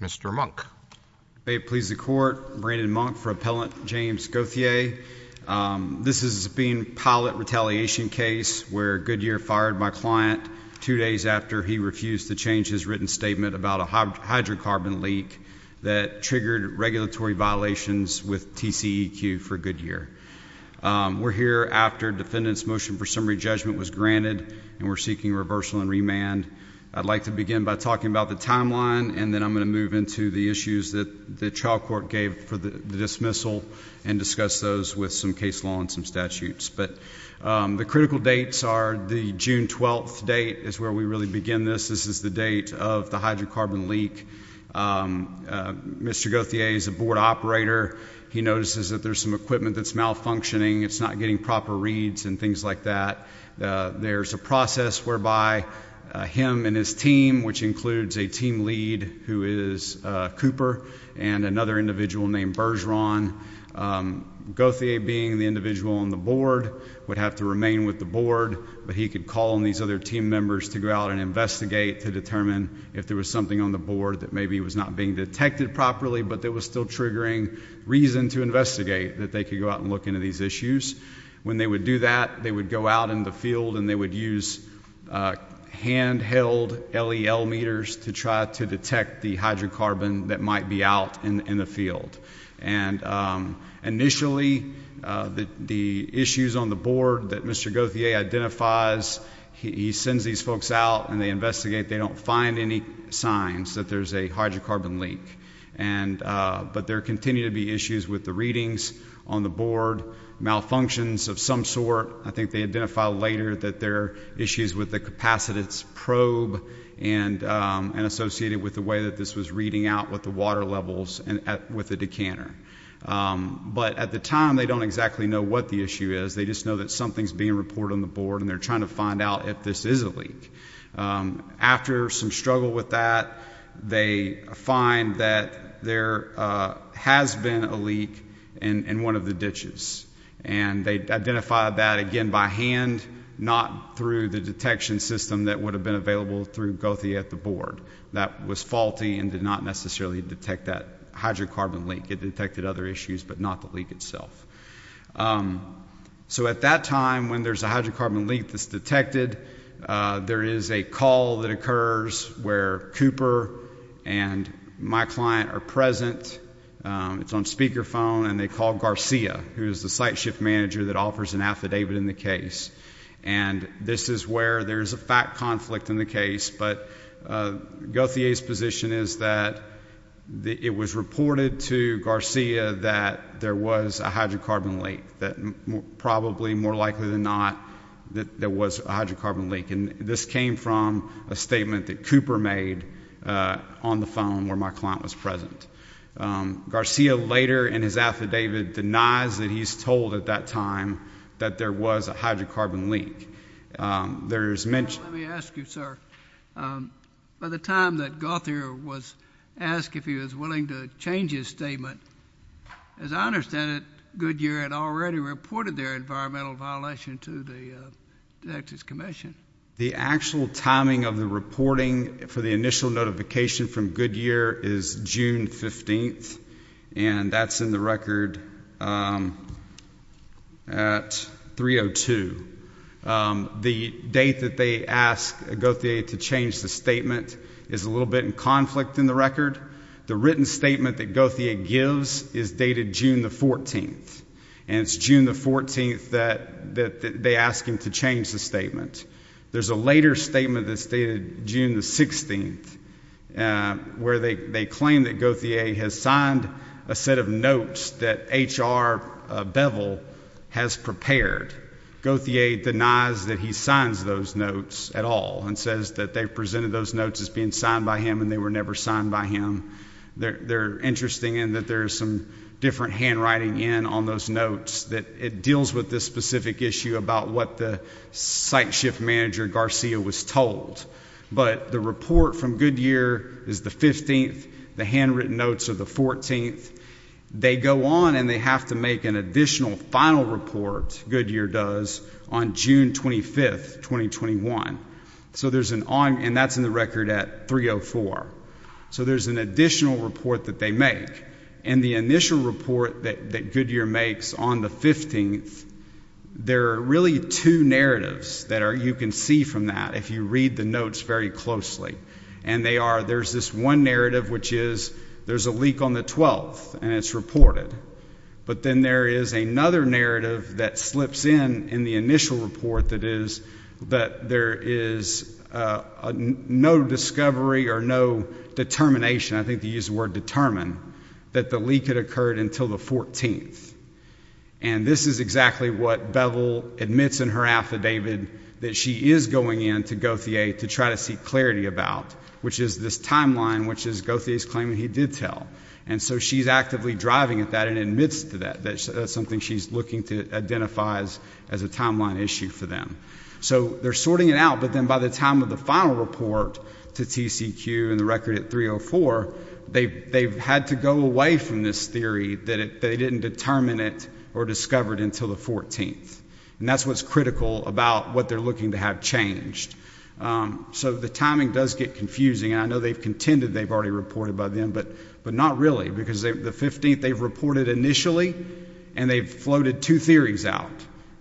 Mr. Monk. May it please the court, Brandon Monk for Appellant James Gauthier. This is being pilot retaliation case where Goodyear fired my client two days after he refused to change his written statement about a hydrocarbon leak that triggered regulatory violations with TCEQ for Goodyear. We're here after defendant's motion for summary judgment was granted and we're seeking reversal and remand. I'd like to begin by talking about the timeline and then I'm going to move into the issues that the trial court gave for the dismissal and discuss those with some case law and some statutes. But the critical dates are the June 12th date is where we really begin this. This is the date of the hydrocarbon leak. Mr. Gauthier is a board operator. He notices that there's some equipment that's malfunctioning. It's not getting proper reads and things like that. There's a process whereby him and his team which includes a team lead who is Cooper and another individual named Bergeron. Gauthier being the individual on the board would have to remain with the board but he could call on these other team members to go out and investigate to determine if there was something on the board that maybe was not being detected properly but there was still triggering reason to investigate that they could go out and of these issues. When they would do that they would go out in the field and they would use handheld LEL meters to try to detect the hydrocarbon that might be out in the field and initially the issues on the board that Mr. Gauthier identifies he sends these folks out and they investigate they don't find any signs that there's a hydrocarbon leak and but there continue to be issues with the readings on the board, malfunctions of some sort. I think they identify later that there issues with the capacitance probe and associated with the way that this was reading out with the water levels and with the decanter but at the time they don't exactly know what the issue is they just know that something's being reported on the board and they're trying to find out if this is a leak. After some struggle with that they find that there has been a leak in one of the ditches and they identified that again by hand not through the detection system that would have been available through Gauthier at the board that was faulty and did not necessarily detect that hydrocarbon leak it detected other issues but not the leak itself. So at that time when there's a hydrocarbon leak that's detected there is a call that occurs where Cooper and my client are present it's on speakerphone and they call Garcia who is the site shift manager that offers an affidavit in the case and this is where there's a fact conflict in the case but Gauthier's position is that it was reported to Garcia that there was a hydrocarbon leak that probably more likely than not that there was a hydrocarbon leak and this came from a statement that Cooper made on the phone where my client was present. Garcia later in his affidavit denies that he's told at that time that there was a hydrocarbon leak. There's mention. Let me ask you sir by the time that Gauthier was asked if he was willing to change his statement as I understand it Goodyear had already reported their environmental violation to the Texas Commission. The actual timing of the reporting for the initial notification from Goodyear is June 15th and that's in the record at 302. The date that they asked Gauthier to change the statement is a little bit in conflict in the record. The written statement that Gauthier gives is dated June the 14th and it's June the 14th that that they ask him to change the statement. There's a later statement that's dated June the 16th where they claim that Gauthier has signed a set of notes that HR Beville has prepared. Gauthier denies that he signs those notes at all and says that they've presented those notes as being signed by him and they were never signed by him. They're interesting in that there's some different handwriting in on those notes that it deals with this specific issue about what the site shift manager Garcia was told but the report from Goodyear is the 15th the handwritten notes of the 14th. They go on and they have to make an additional final report Goodyear does on June 25th 2021. So there's an on and that's in the report. So there's an additional report that they make and the initial report that Goodyear makes on the 15th there are really two narratives that are you can see from that if you read the notes very closely and they are there's this one narrative which is there's a leak on the 12th and it's reported but then there is another narrative that slips in in the initial report that is that there is no discovery or no determination. I think they use the word determine that the leak had occurred until the 14th and this is exactly what bevel admits in her affidavit that she is going into Goodyear to try to seek clarity about which is this timeline which is Goodyear's claim he did tell and so she's actively driving at that and admits to that that's something she's looking to identifies as a timeline issue for them. So they're sorting it out but then by the time of the final report to T. C. Q. And the record at 304 they've had to go away from this theory that they didn't determine it or discovered until the 14th and that's what's critical about what they're looking to have changed. Um so the timing does get confusing. I know they've contended they've already reported by them but but not really because the 15th they've reported initially and they've floated two theories out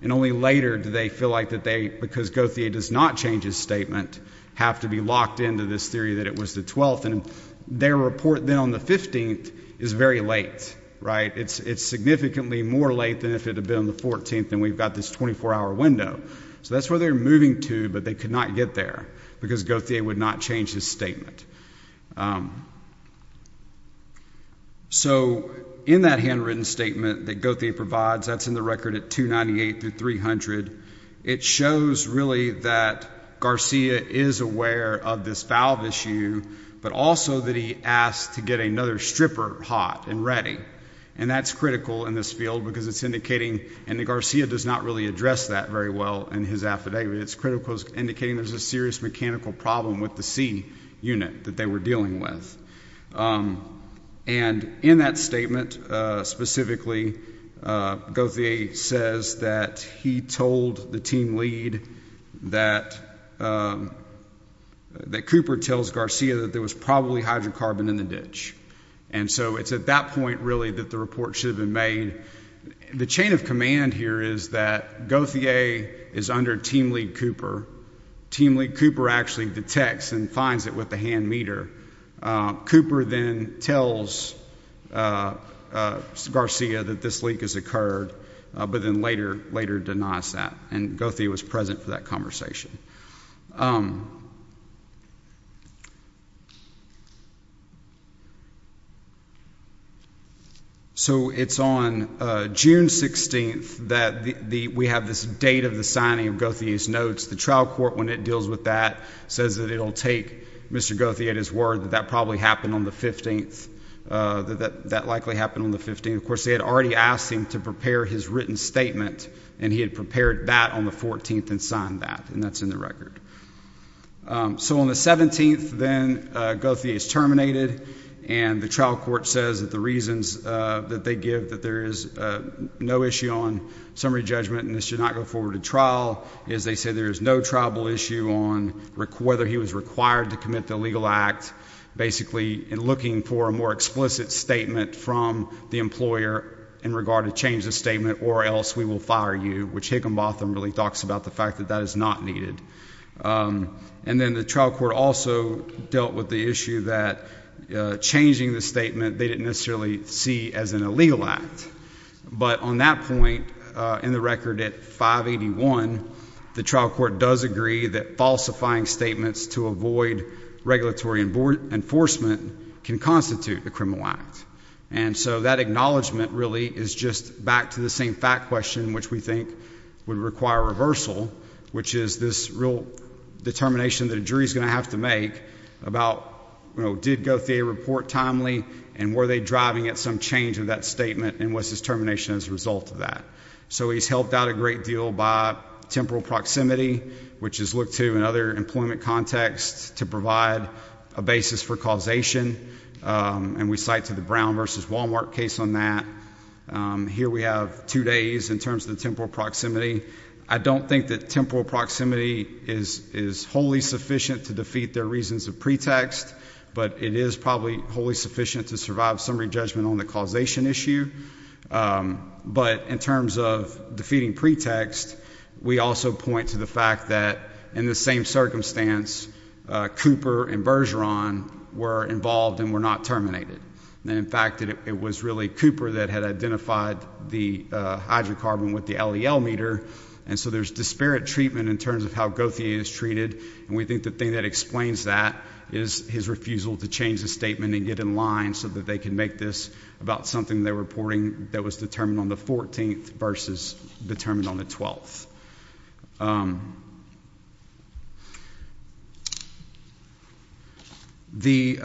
and only later do they feel like that they because Goodyear does not change his statement have to be locked into this theory that it was the 12th and their report then on the 15th is very late right it's it's significantly more late than if it had been on the 14th and we've got this 24-hour window so that's where they're moving to but they could not get there because Goodyear would not change his statement. So in that handwritten statement that Goodyear provides that's in the record at 298 to 300 it shows really that Garcia is aware of this valve issue but also that he asked to get another stripper hot and ready and that's critical in this field because it's indicating and the Garcia does not really address that very well in his affidavit it's critical is indicating there's a serious mechanical problem with the C unit that they were dealing with and in that statement specifically Goodyear says that he told the team lead that that Cooper tells Garcia that there was probably hydrocarbon in the ditch and so it's at that point really that the report should have been made the chain of command here is that Goodyear is under team lead Cooper. Team lead Cooper actually detects and finds it with the hand meter. Cooper then tells Garcia that this leak has occurred but then later later denies that and Goodyear was present for that conversation. So it's on June 16th that the we have this date of the signing of Goodyear's notes the trial court when it deals with that says that it'll take Mr. Goodyear at his word that that probably happened on the 15th that that likely happened on the 15th of course they had already asked him to prepare his written statement and he had prepared that on the 14th and signed that and that's in the record. So on the 17th then Goodyear is terminated and the trial court says that the reasons that they give that there is no issue on summary judgment and this should not go forward to trial is they say there is no tribal issue on whether he was required to commit the legal act basically in looking for a more explicit statement from the employer in regard to change the statement or else we will fire you which Higginbotham really talks about the fact that that is not needed and then the trial court also dealt with the issue that changing the statement they didn't necessarily see as an illegal act but on that point in the record at 581 the trial court does agree that falsifying statements to avoid regulatory enforcement can constitute a criminal act and so that acknowledgment really is just back to the same fact question which we think would require reversal which is this real determination that a jury is going to have to make about you know did Goodyear report timely and were they driving at some change of that statement and was his termination as a result of that. So he's helped out a great deal by temporal proximity which is looked to in other employment contexts to provide a basis for causation and we cite to the Brown versus Walmart case on that here we have two days in terms of the temporal proximity I don't think that temporal proximity is is wholly sufficient to defeat their reasons of pretext but it is probably wholly sufficient to survive summary judgment on the causation issue but in terms of defeating pretext we also point to the that in the same circumstance Cooper and Bergeron were involved and were not terminated and in fact it was really Cooper that had identified the hydrocarbon with the LEL meter and so there's disparate treatment in terms of how Goodyear is treated and we think the thing that explains that is his refusal to change the statement and get in line so that they can make this about something they're reporting that was determined on the 14th versus determined on the 12th the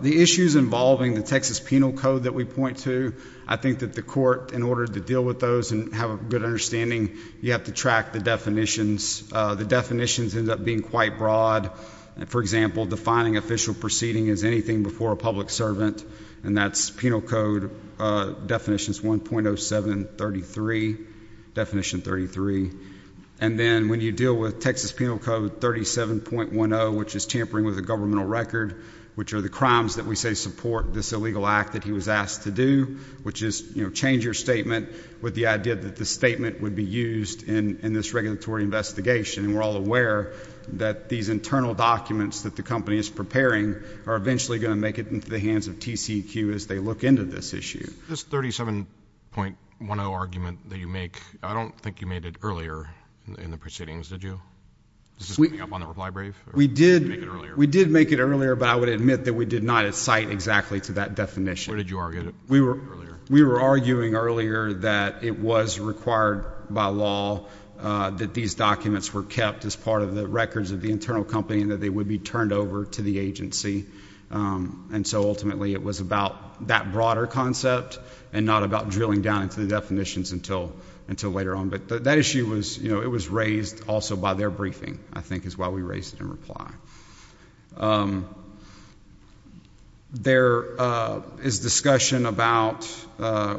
the issues involving the Texas penal code that we point to I think that the court in order to deal with those and have a good understanding you have to track the definitions the definitions end up being quite broad and for example defining official proceeding is anything before a 33 and then when you deal with Texas penal code 37.10 which is tampering with the governmental record which are the crimes that we say support this illegal act that he was asked to do which is you know change your statement with the idea that the statement would be used in in this regulatory investigation and we're all aware that these internal documents that the company is preparing are eventually going to make it into the hands of TCEQ as they look into this this 37.10 argument that you make I don't think you made it earlier in the proceedings did you we did we did make it earlier but I would admit that we did not excite exactly to that definition did you argue we were we were arguing earlier that it was required by law that these documents were kept as part of the records of the internal company and that they would be turned over to the agency and so ultimately it was about that broader concept and not about drilling down into the definitions until until later on but that issue was you know it was raised also by their briefing I think is why we raised it in reply there is discussion about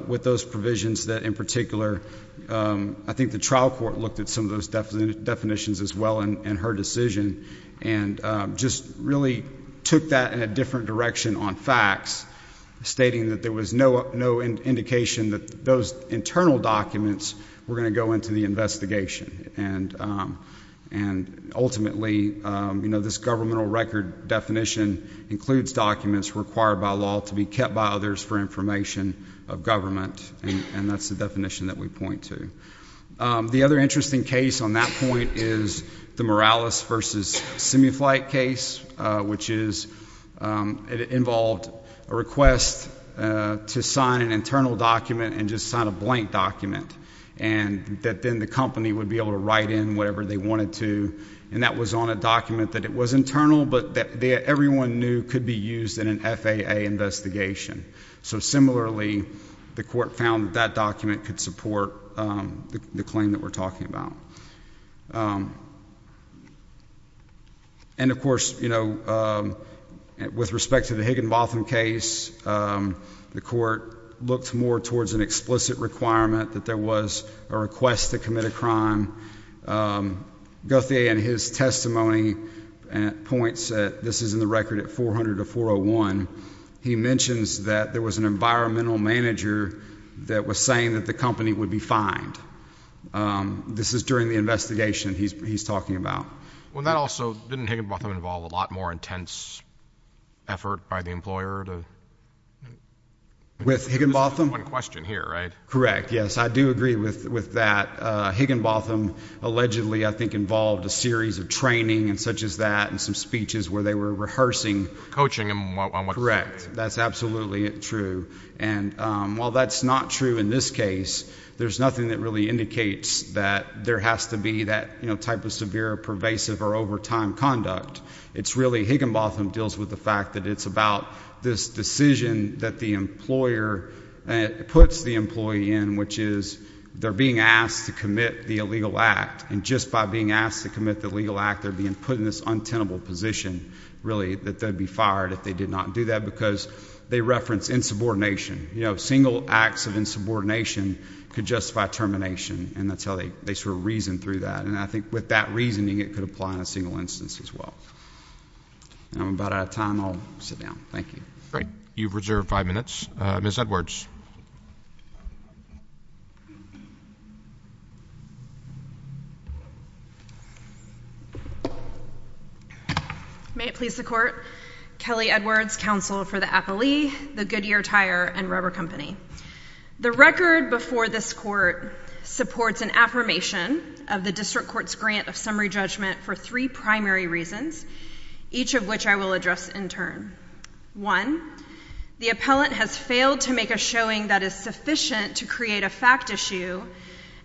with those provisions that in particular I think the trial court looked at some of those definitions as well in her decision and just really took that in a different direction on facts stating that there was no no indication that those internal documents were going to go into the investigation and and ultimately you know this governmental record definition includes documents required by law to be kept by others for information of government and that's the definition that we point to the other interesting case on that point is the Morales versus semi flight case which is it involved a request to sign an internal document and just sign a blank document and that then the company would be able to write in whatever they wanted to and that was on a document that it was internal but that everyone knew could be used in an FAA investigation so similarly the court found that document could support the claim that we're talking about and of course you know with respect to the Higginbotham case the court looked more towards an explicit requirement that there was a request to commit a crime Guthrie and his testimony and points that this is in the record at 400 to 401 he mentions that there was an environmental manager that was saying that the company would be fined this is during the investigation he's talking about well that also didn't Higginbotham involved a lot more intense effort by the employer to with Higginbotham one question here right correct yes I do agree with with that Higginbotham allegedly I think involved a series of training and such as that and some speeches where they were rehearsing coaching him on what correct that's absolutely true and while that's not true in this case there's nothing that really indicates that there has to be that you know type of severe pervasive or overtime conduct it's really Higginbotham deals with the fact that it's about this decision that the employer puts the employee in which is they're being asked to commit the illegal act and just by being asked to commit the legal act they're being put in this untenable position really that they'd be fired if they did not do that because they reference insubordination you know single acts of insubordination could justify termination and that's how they they sort of reason through that and I think with that reasoning it could apply in a single instance as well I'm about out of time I'll sit down thank you great you've reserved five minutes miss Edwards may it please the court Kelly Edwards counsel for the appellee the Goodyear Tire and Rubber Company the record before this court supports an affirmation of the district courts grant of summary judgment for three primary reasons each of which I will address in turn one the appellant has failed to make a showing that is sufficient to create a fact issue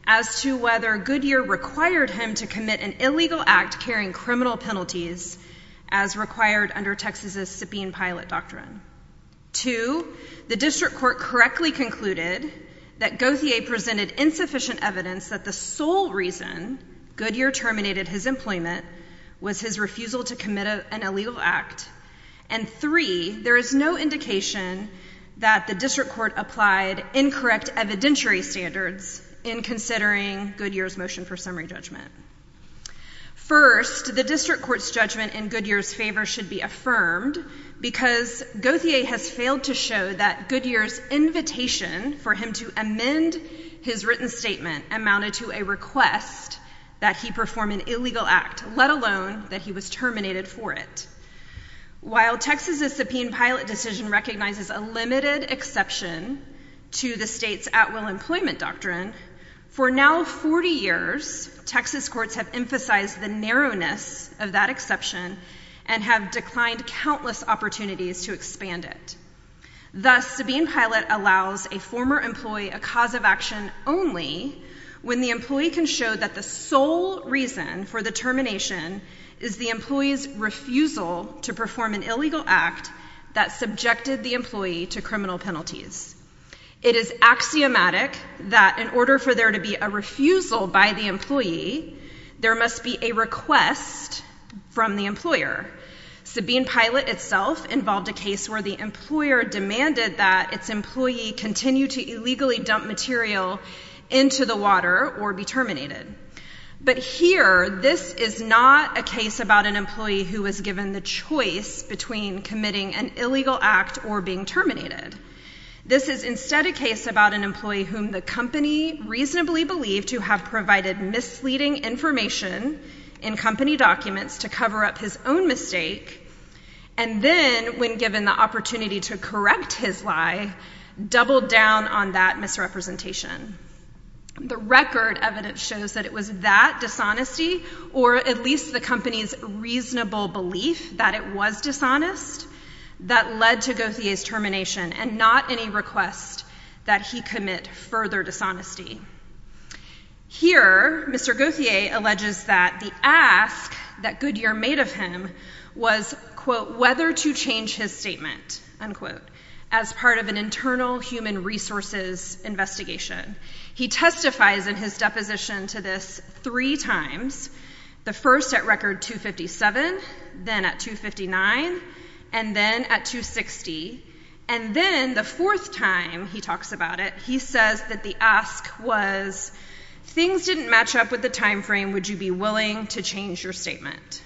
as to whether Goodyear required him to commit an illegal act carrying criminal penalties as required under Texas's subpoena pilot doctrine to the district court correctly concluded that Goethe a presented insufficient evidence that the sole reason Goodyear terminated his employment was his refusal to commit an illegal act and three there is no indication that the district court applied incorrect evidentiary standards in considering Goodyear's motion for summary judgment first the district court's judgment in Goodyear's favor should be affirmed because Goethe a has failed to show that Goodyear's invitation for him to amend his written statement amounted to a request that he perform an illegal act let alone that he was terminated for it while Texas's subpoena pilot decision recognizes a limited exception to the state's at will employment doctrine for now 40 years Texas courts have emphasized the narrowness of that exception and have declined countless opportunities to expand it allows a former employee a cause of action only when the employee can show that the sole reason for the termination is the employees refusal to perform an illegal act that subjected the employee to criminal penalties it is axiomatic that in order for there to be a refusal by the employee there must be a request from the employer to be in pilot itself involved a case where the employer demanded that its employee continue to illegally dump material into the water or be terminated but here this is not a case about an employee who was given the choice between committing an illegal act or being terminated this is instead a case about an employee whom the company reasonably believe to have provided misleading information in company documents to cover up his own mistake and then when given the opportunity to correct his lie double down on that misrepresentation the record evidence shows that it was that dishonesty or at least the company's reasonable belief that it was dishonest that led to go through his termination and not any request that he commit further dishonesty here Mr. Goethe alleges that the ask that Goodyear made of him was quote whether to change his statement and quote as part of an internal human resources investigation he testifies in his deposition to this three times the first at record 257 then at 259 and then at 260 and then the time he talks about it he says that the ask was things didn't match up with the time frame would you be willing to change your statement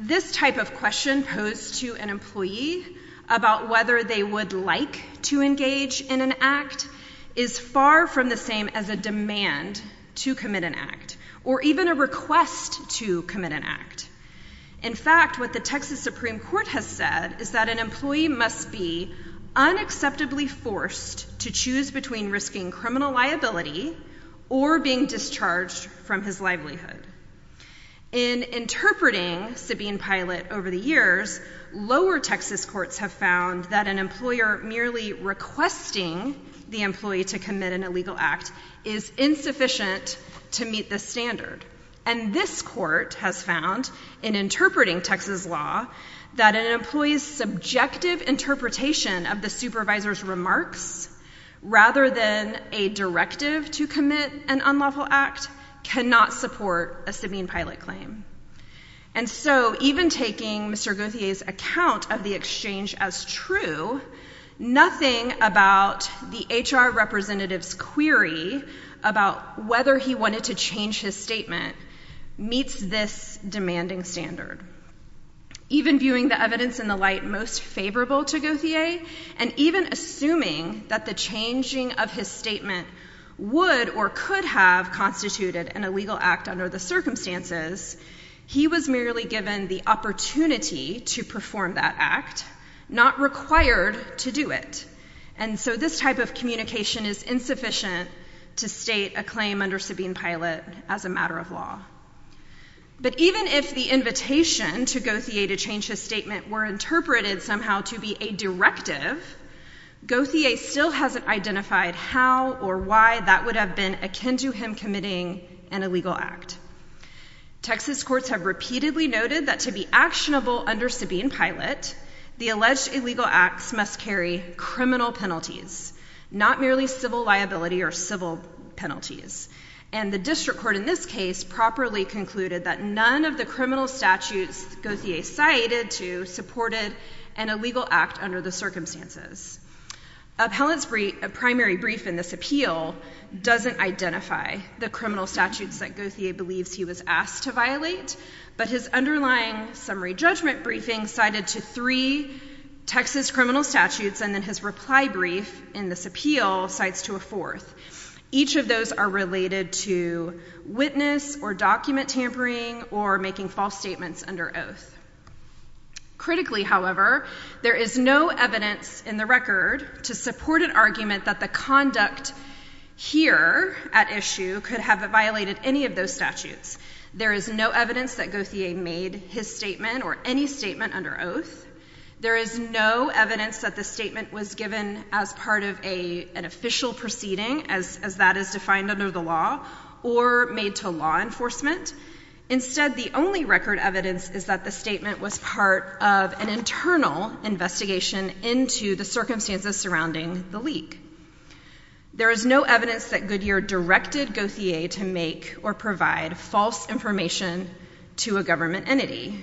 this type of question posed to an employee about whether they would like to engage in an act is far from the same as a demand to commit an act or even a request to commit an act in fact what the Texas Supreme Court has said is that an employee must be unacceptably forced to choose between risking criminal liability or being discharged from his livelihood in interpreting Sabine pilot over the years lower Texas courts have found that an employer merely requesting the employee to commit an illegal act is insufficient to meet the standard and this court has found in interpreting Texas law that an employee's subjective interpretation of the supervisor's remarks rather than a directive to commit an unlawful act cannot support a Sabine pilot claim and so even taking Mr. Goodyear's account of the exchange as true nothing about the HR representative's query about whether he wanted to change his statement meets this demanding standard even viewing the evidence in the light most favorable to Goodyear and even assuming that the changing of his statement would or could have constituted an illegal act under the circumstances he was merely given the opportunity to perform that act not required to do it and so this type of communication is insufficient to state a claim under Sabine pilot as a matter of law but even if the invitation to Goodyear to change his statement were interpreted somehow to be a directive Goodyear still hasn't identified how or why that would have been akin to him committing an illegal act Texas courts have repeatedly noted that to be actionable under Sabine pilot the alleged illegal acts must carry criminal penalties not merely civil liability or civil penalties and the district court in this case properly concluded that none of the criminal statutes Goodyear cited to supported an illegal act under the circumstances appellants brief a primary brief in this appeal doesn't identify the criminal statutes that Goodyear believes he was asked to but his underlying summary judgment briefing cited to three Texas criminal statutes and then his reply brief in this appeal sites to a fourth each of those are related to witness or document tampering or making false statements under oath critically however there is no evidence in the record to support an argument that the conduct here at issue could have violated any of those statutes there is no evidence that Goodyear made his statement or any statement under oath there is no evidence that the statement was given as part of a an official proceeding as that is defined under the law or made to law enforcement instead the only record evidence is that the statement was part of an internal investigation into the circumstances surrounding the leak there is no evidence that Goodyear directed Goethe a to make or provide false information to a government entity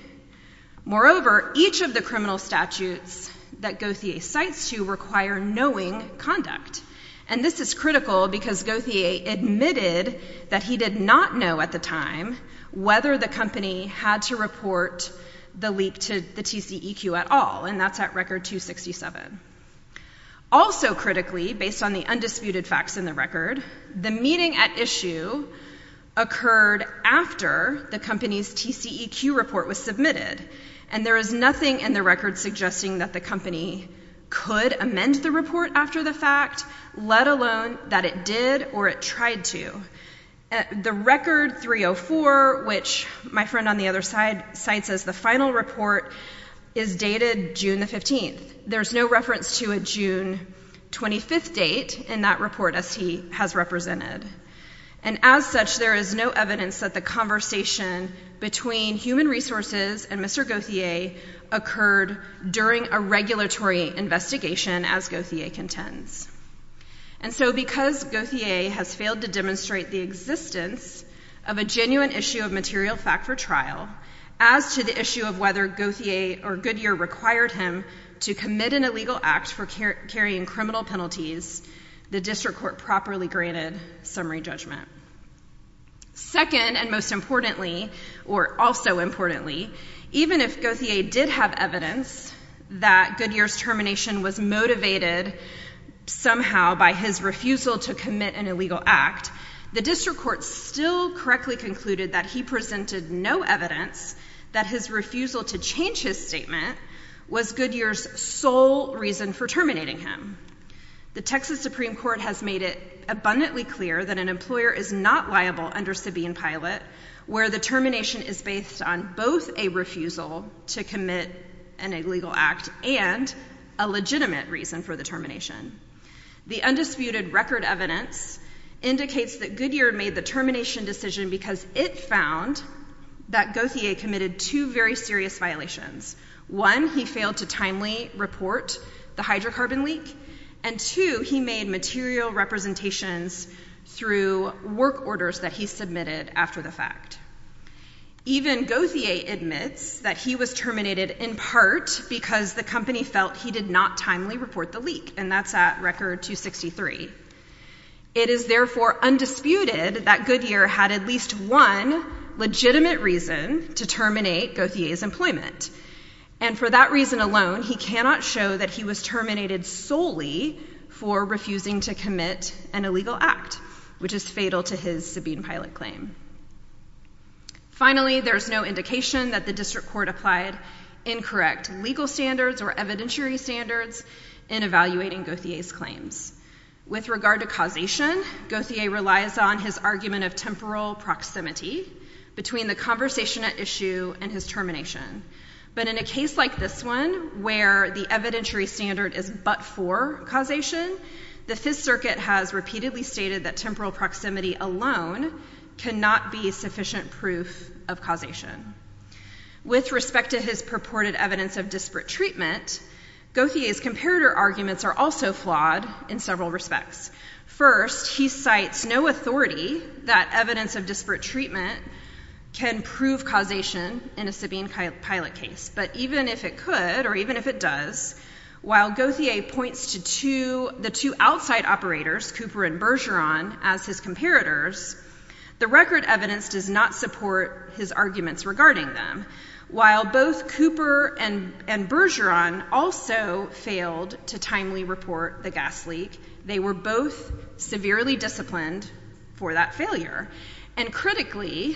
moreover each of the criminal statutes that Goethe a sites to require knowing conduct and this is critical because Goethe a admitted that he did not know at the time whether the company had to report the leak to the TCEQ at all and that's at record 267 also critically based on the undisputed facts in the record the meeting at issue occurred after the company's TCEQ report was submitted and there is nothing in the record suggesting that the company could amend the report after the fact let alone that it did or it tried to the record 304 which my friend on the other side sites as the final report is dated June the 15th there's no reference to a 25th date in that report as he has represented and as such there is no evidence that the conversation between human resources and mr. Goethe a occurred during a regulatory investigation as Goethe a contends and so because Goethe a has failed to demonstrate the existence of a genuine issue of material fact for trial as to the issue of whether Goethe a or Goodyear required him to commit an illegal act for carrying criminal penalties the district court properly granted summary judgment second and most importantly or also importantly even if Goethe a did have evidence that Goodyear's termination was motivated somehow by his refusal to commit an illegal act the district court still correctly concluded that he presented no evidence that his refusal to change his statement was Goodyear's sole reason for terminating him the Texas Supreme Court has made it abundantly clear that an employer is not liable under Sabine pilot where the termination is based on both a refusal to commit an illegal act and a legitimate reason for the termination the undisputed record evidence indicates that Goodyear made the termination decision because it found that Goethe a committed two very serious violations one he failed to timely report the hydrocarbon leak and two he made material representations through work orders that he submitted after the fact even Goethe a admits that he was terminated in part because the company felt he did not timely report the leak and that's at record 263 it is therefore undisputed that Goodyear had at least one legitimate reason to terminate Goethe a's employment and for that reason alone he cannot show that he was terminated solely for refusing to commit an illegal act which is fatal to his Sabine pilot claim finally there's no indication that the district court applied incorrect legal standards or evidentiary standards in evaluating Goethe a's claims with regard to causation Goethe a relies on his argument of temporal proximity between the conversation at issue and his termination but in a case like this one where the evidentiary standard is but for causation the Fifth Circuit has repeatedly stated that temporal proximity alone cannot be sufficient proof of causation with respect to his purported evidence of disparate treatment Goethe a's comparator arguments are also flawed in several respects first he cites no authority that evidence of disparate treatment can prove causation in a Sabine pilot case but even if it could or even if it does while Goethe a points to to the two outside operators Cooper and Bergeron as his comparators the record evidence does not support his arguments regarding them while both Cooper and and Bergeron also failed to timely report the gas leak they were both severely disciplined for that failure and critically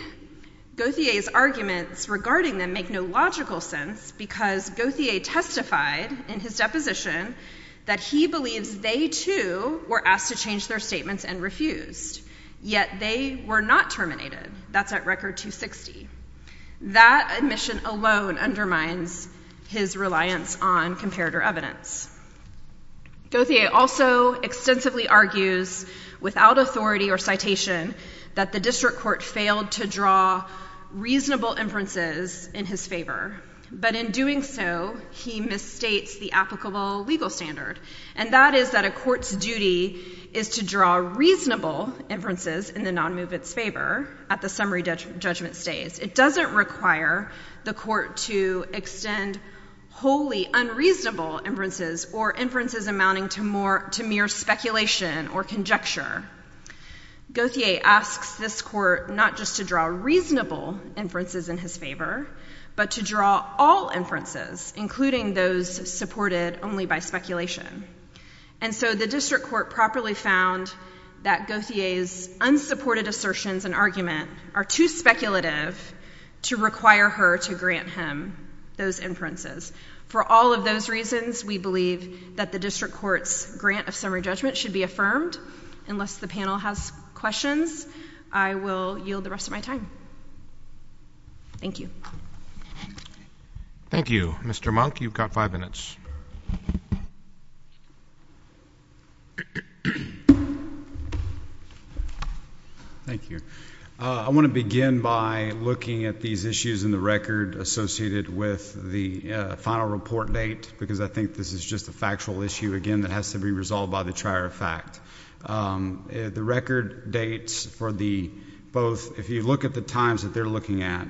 Goethe a's arguments regarding them make no logical sense because Goethe a testified in his deposition that he believes they too were asked to change their statements and refused yet they were not terminated that's at record 260 that admission alone undermines his reliance on comparator evidence Goethe a also extensively argues without authority or citation that the district court failed to draw reasonable inferences in his favor but in doing so he misstates the applicable legal standard and that is that a court's duty is to draw reasonable inferences in the non-movements favor at the summary judgment stage it doesn't require the court to extend wholly unreasonable inferences or inferences amounting to more to mere speculation or conjecture Goethe a asks this court not just to draw reasonable inferences in his favor but to draw all inferences including those supported only by speculation and so the district court properly found that Goethe a's unsupported assertions and argument are too speculative to require her to grant him those inferences for all of those reasons we believe that the district court's grant of summary judgment should be affirmed unless the panel has questions I will yield the rest of my time thank you thank you mr. monk you've got five minutes thank you I want to begin by looking at these issues in the record associated with the final report date because I think this is just a factual issue again that has to be resolved by the trier of fact the record dates for the both if you look at the times that they're looking at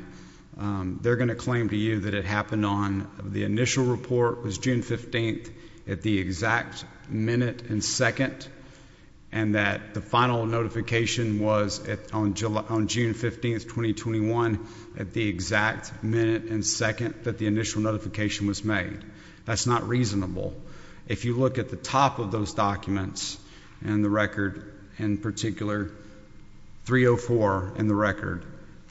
they're going to claim to you that it happened on the initial report was June 15th at the exact minute and second and that the final notification was on July on June 15th 2021 at the exact minute and second that the initial notification was made that's not reasonable if you look at the top of those documents and the record in particular 304 in the record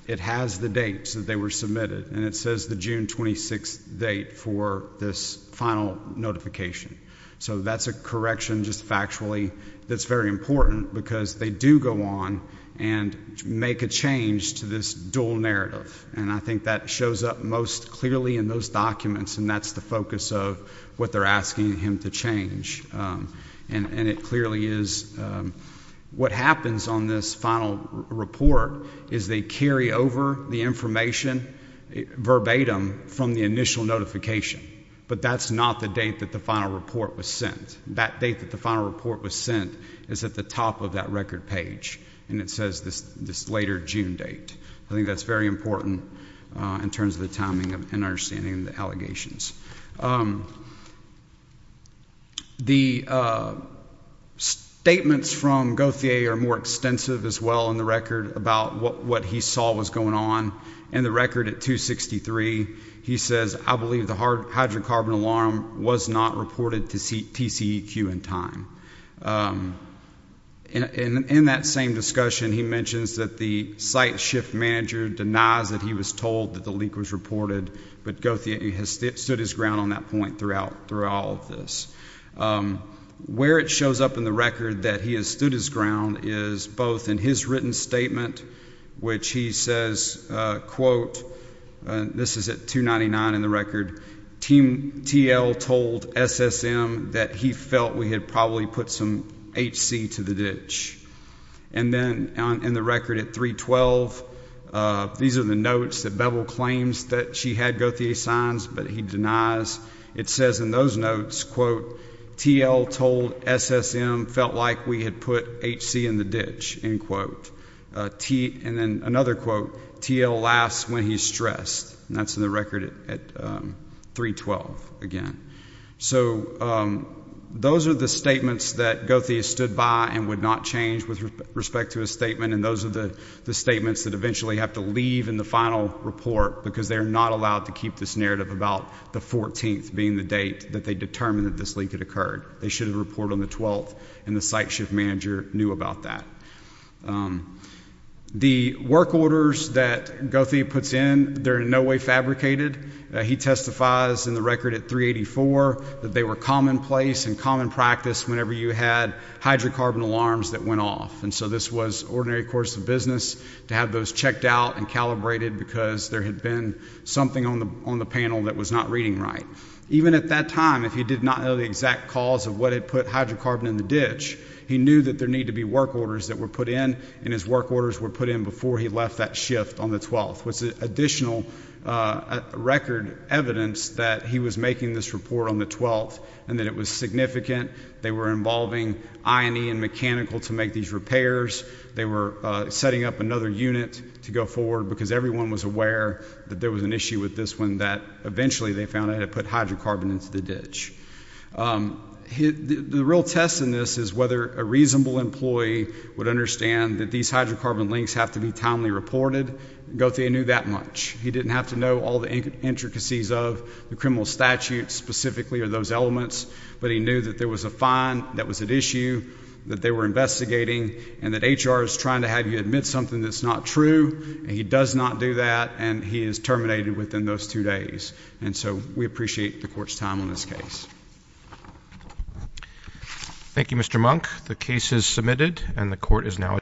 it has the dates that they were submitted and it says the June 26th date for this final notification so that's a correction just factually that's very important because they do go on and make a change to this dual narrative and I think that shows up most clearly in those documents and that's the focus of what they're asking him to change and and it clearly is what happens on this final report is they carry over the information verbatim from the initial notification but that's not the date that the final report was sent that date that the final report was sent is at the of that record page and it says this this later June date I think that's very important in terms of the timing of an understanding the allegations the statements from Gauthier are more extensive as well in the record about what what he saw was going on and the record at 263 he says I believe the hard hydrocarbon alarm was not reported to see TCEQ in time and in that same discussion he mentions that the site shift manager denies that he was told that the leak was reported but Gauthier has stood his ground on that point throughout through all of this where it shows up in the record that he has stood his ground is both in his written statement which he says quote this is at 299 in the record team TL told SSM that he felt we had probably put some HC to the ditch and then in the record at 312 these are the notes that bevel claims that she had Gauthier signs but he denies it says in those notes quote TL told SSM felt like we had put HC in the ditch in quote T and then another quote TL laughs when he's stressed that's in the record at 312 again so those are the statements that Gauthier stood by and would not change with respect to a statement and those are the the statements that eventually have to leave in the final report because they're not allowed to keep this narrative about the 14th being the date that they determined that this leak had occurred they should have report on the 12th and the site shift manager knew about that the work orders that Gauthier puts in there in no way fabricated he testifies in the record at 384 that they were commonplace and common practice whenever you had hydrocarbon alarms that went off and so this was ordinary course of business to have those checked out and calibrated because there had been something on the on the panel that was not reading right even at that time if he did not know the exact cause of what had put hydrocarbon in the ditch he knew that there need to be work orders that were put in and his work orders were put in before he left that shift on the 12th was additional record evidence that he was making this report on the 12th and that it was significant they were involving I and E and mechanical to make these repairs they were setting up another unit to go forward because everyone was aware that there was an issue with this one that eventually they found I had put hydrocarbon into the ditch hit the real test in this is whether a reasonable employee would understand that these hydrocarbon links have to be timely reported go they knew that much he didn't have to know all the intricacies of the criminal statute specifically are those elements but he knew that there was a fine that was an issue that they were investigating and that HR is trying to have you admit something that's not true and he does not do that and he is terminated within those two days and so we appreciate the court's time on this case thank you mr. monk the case is submitted and the court is now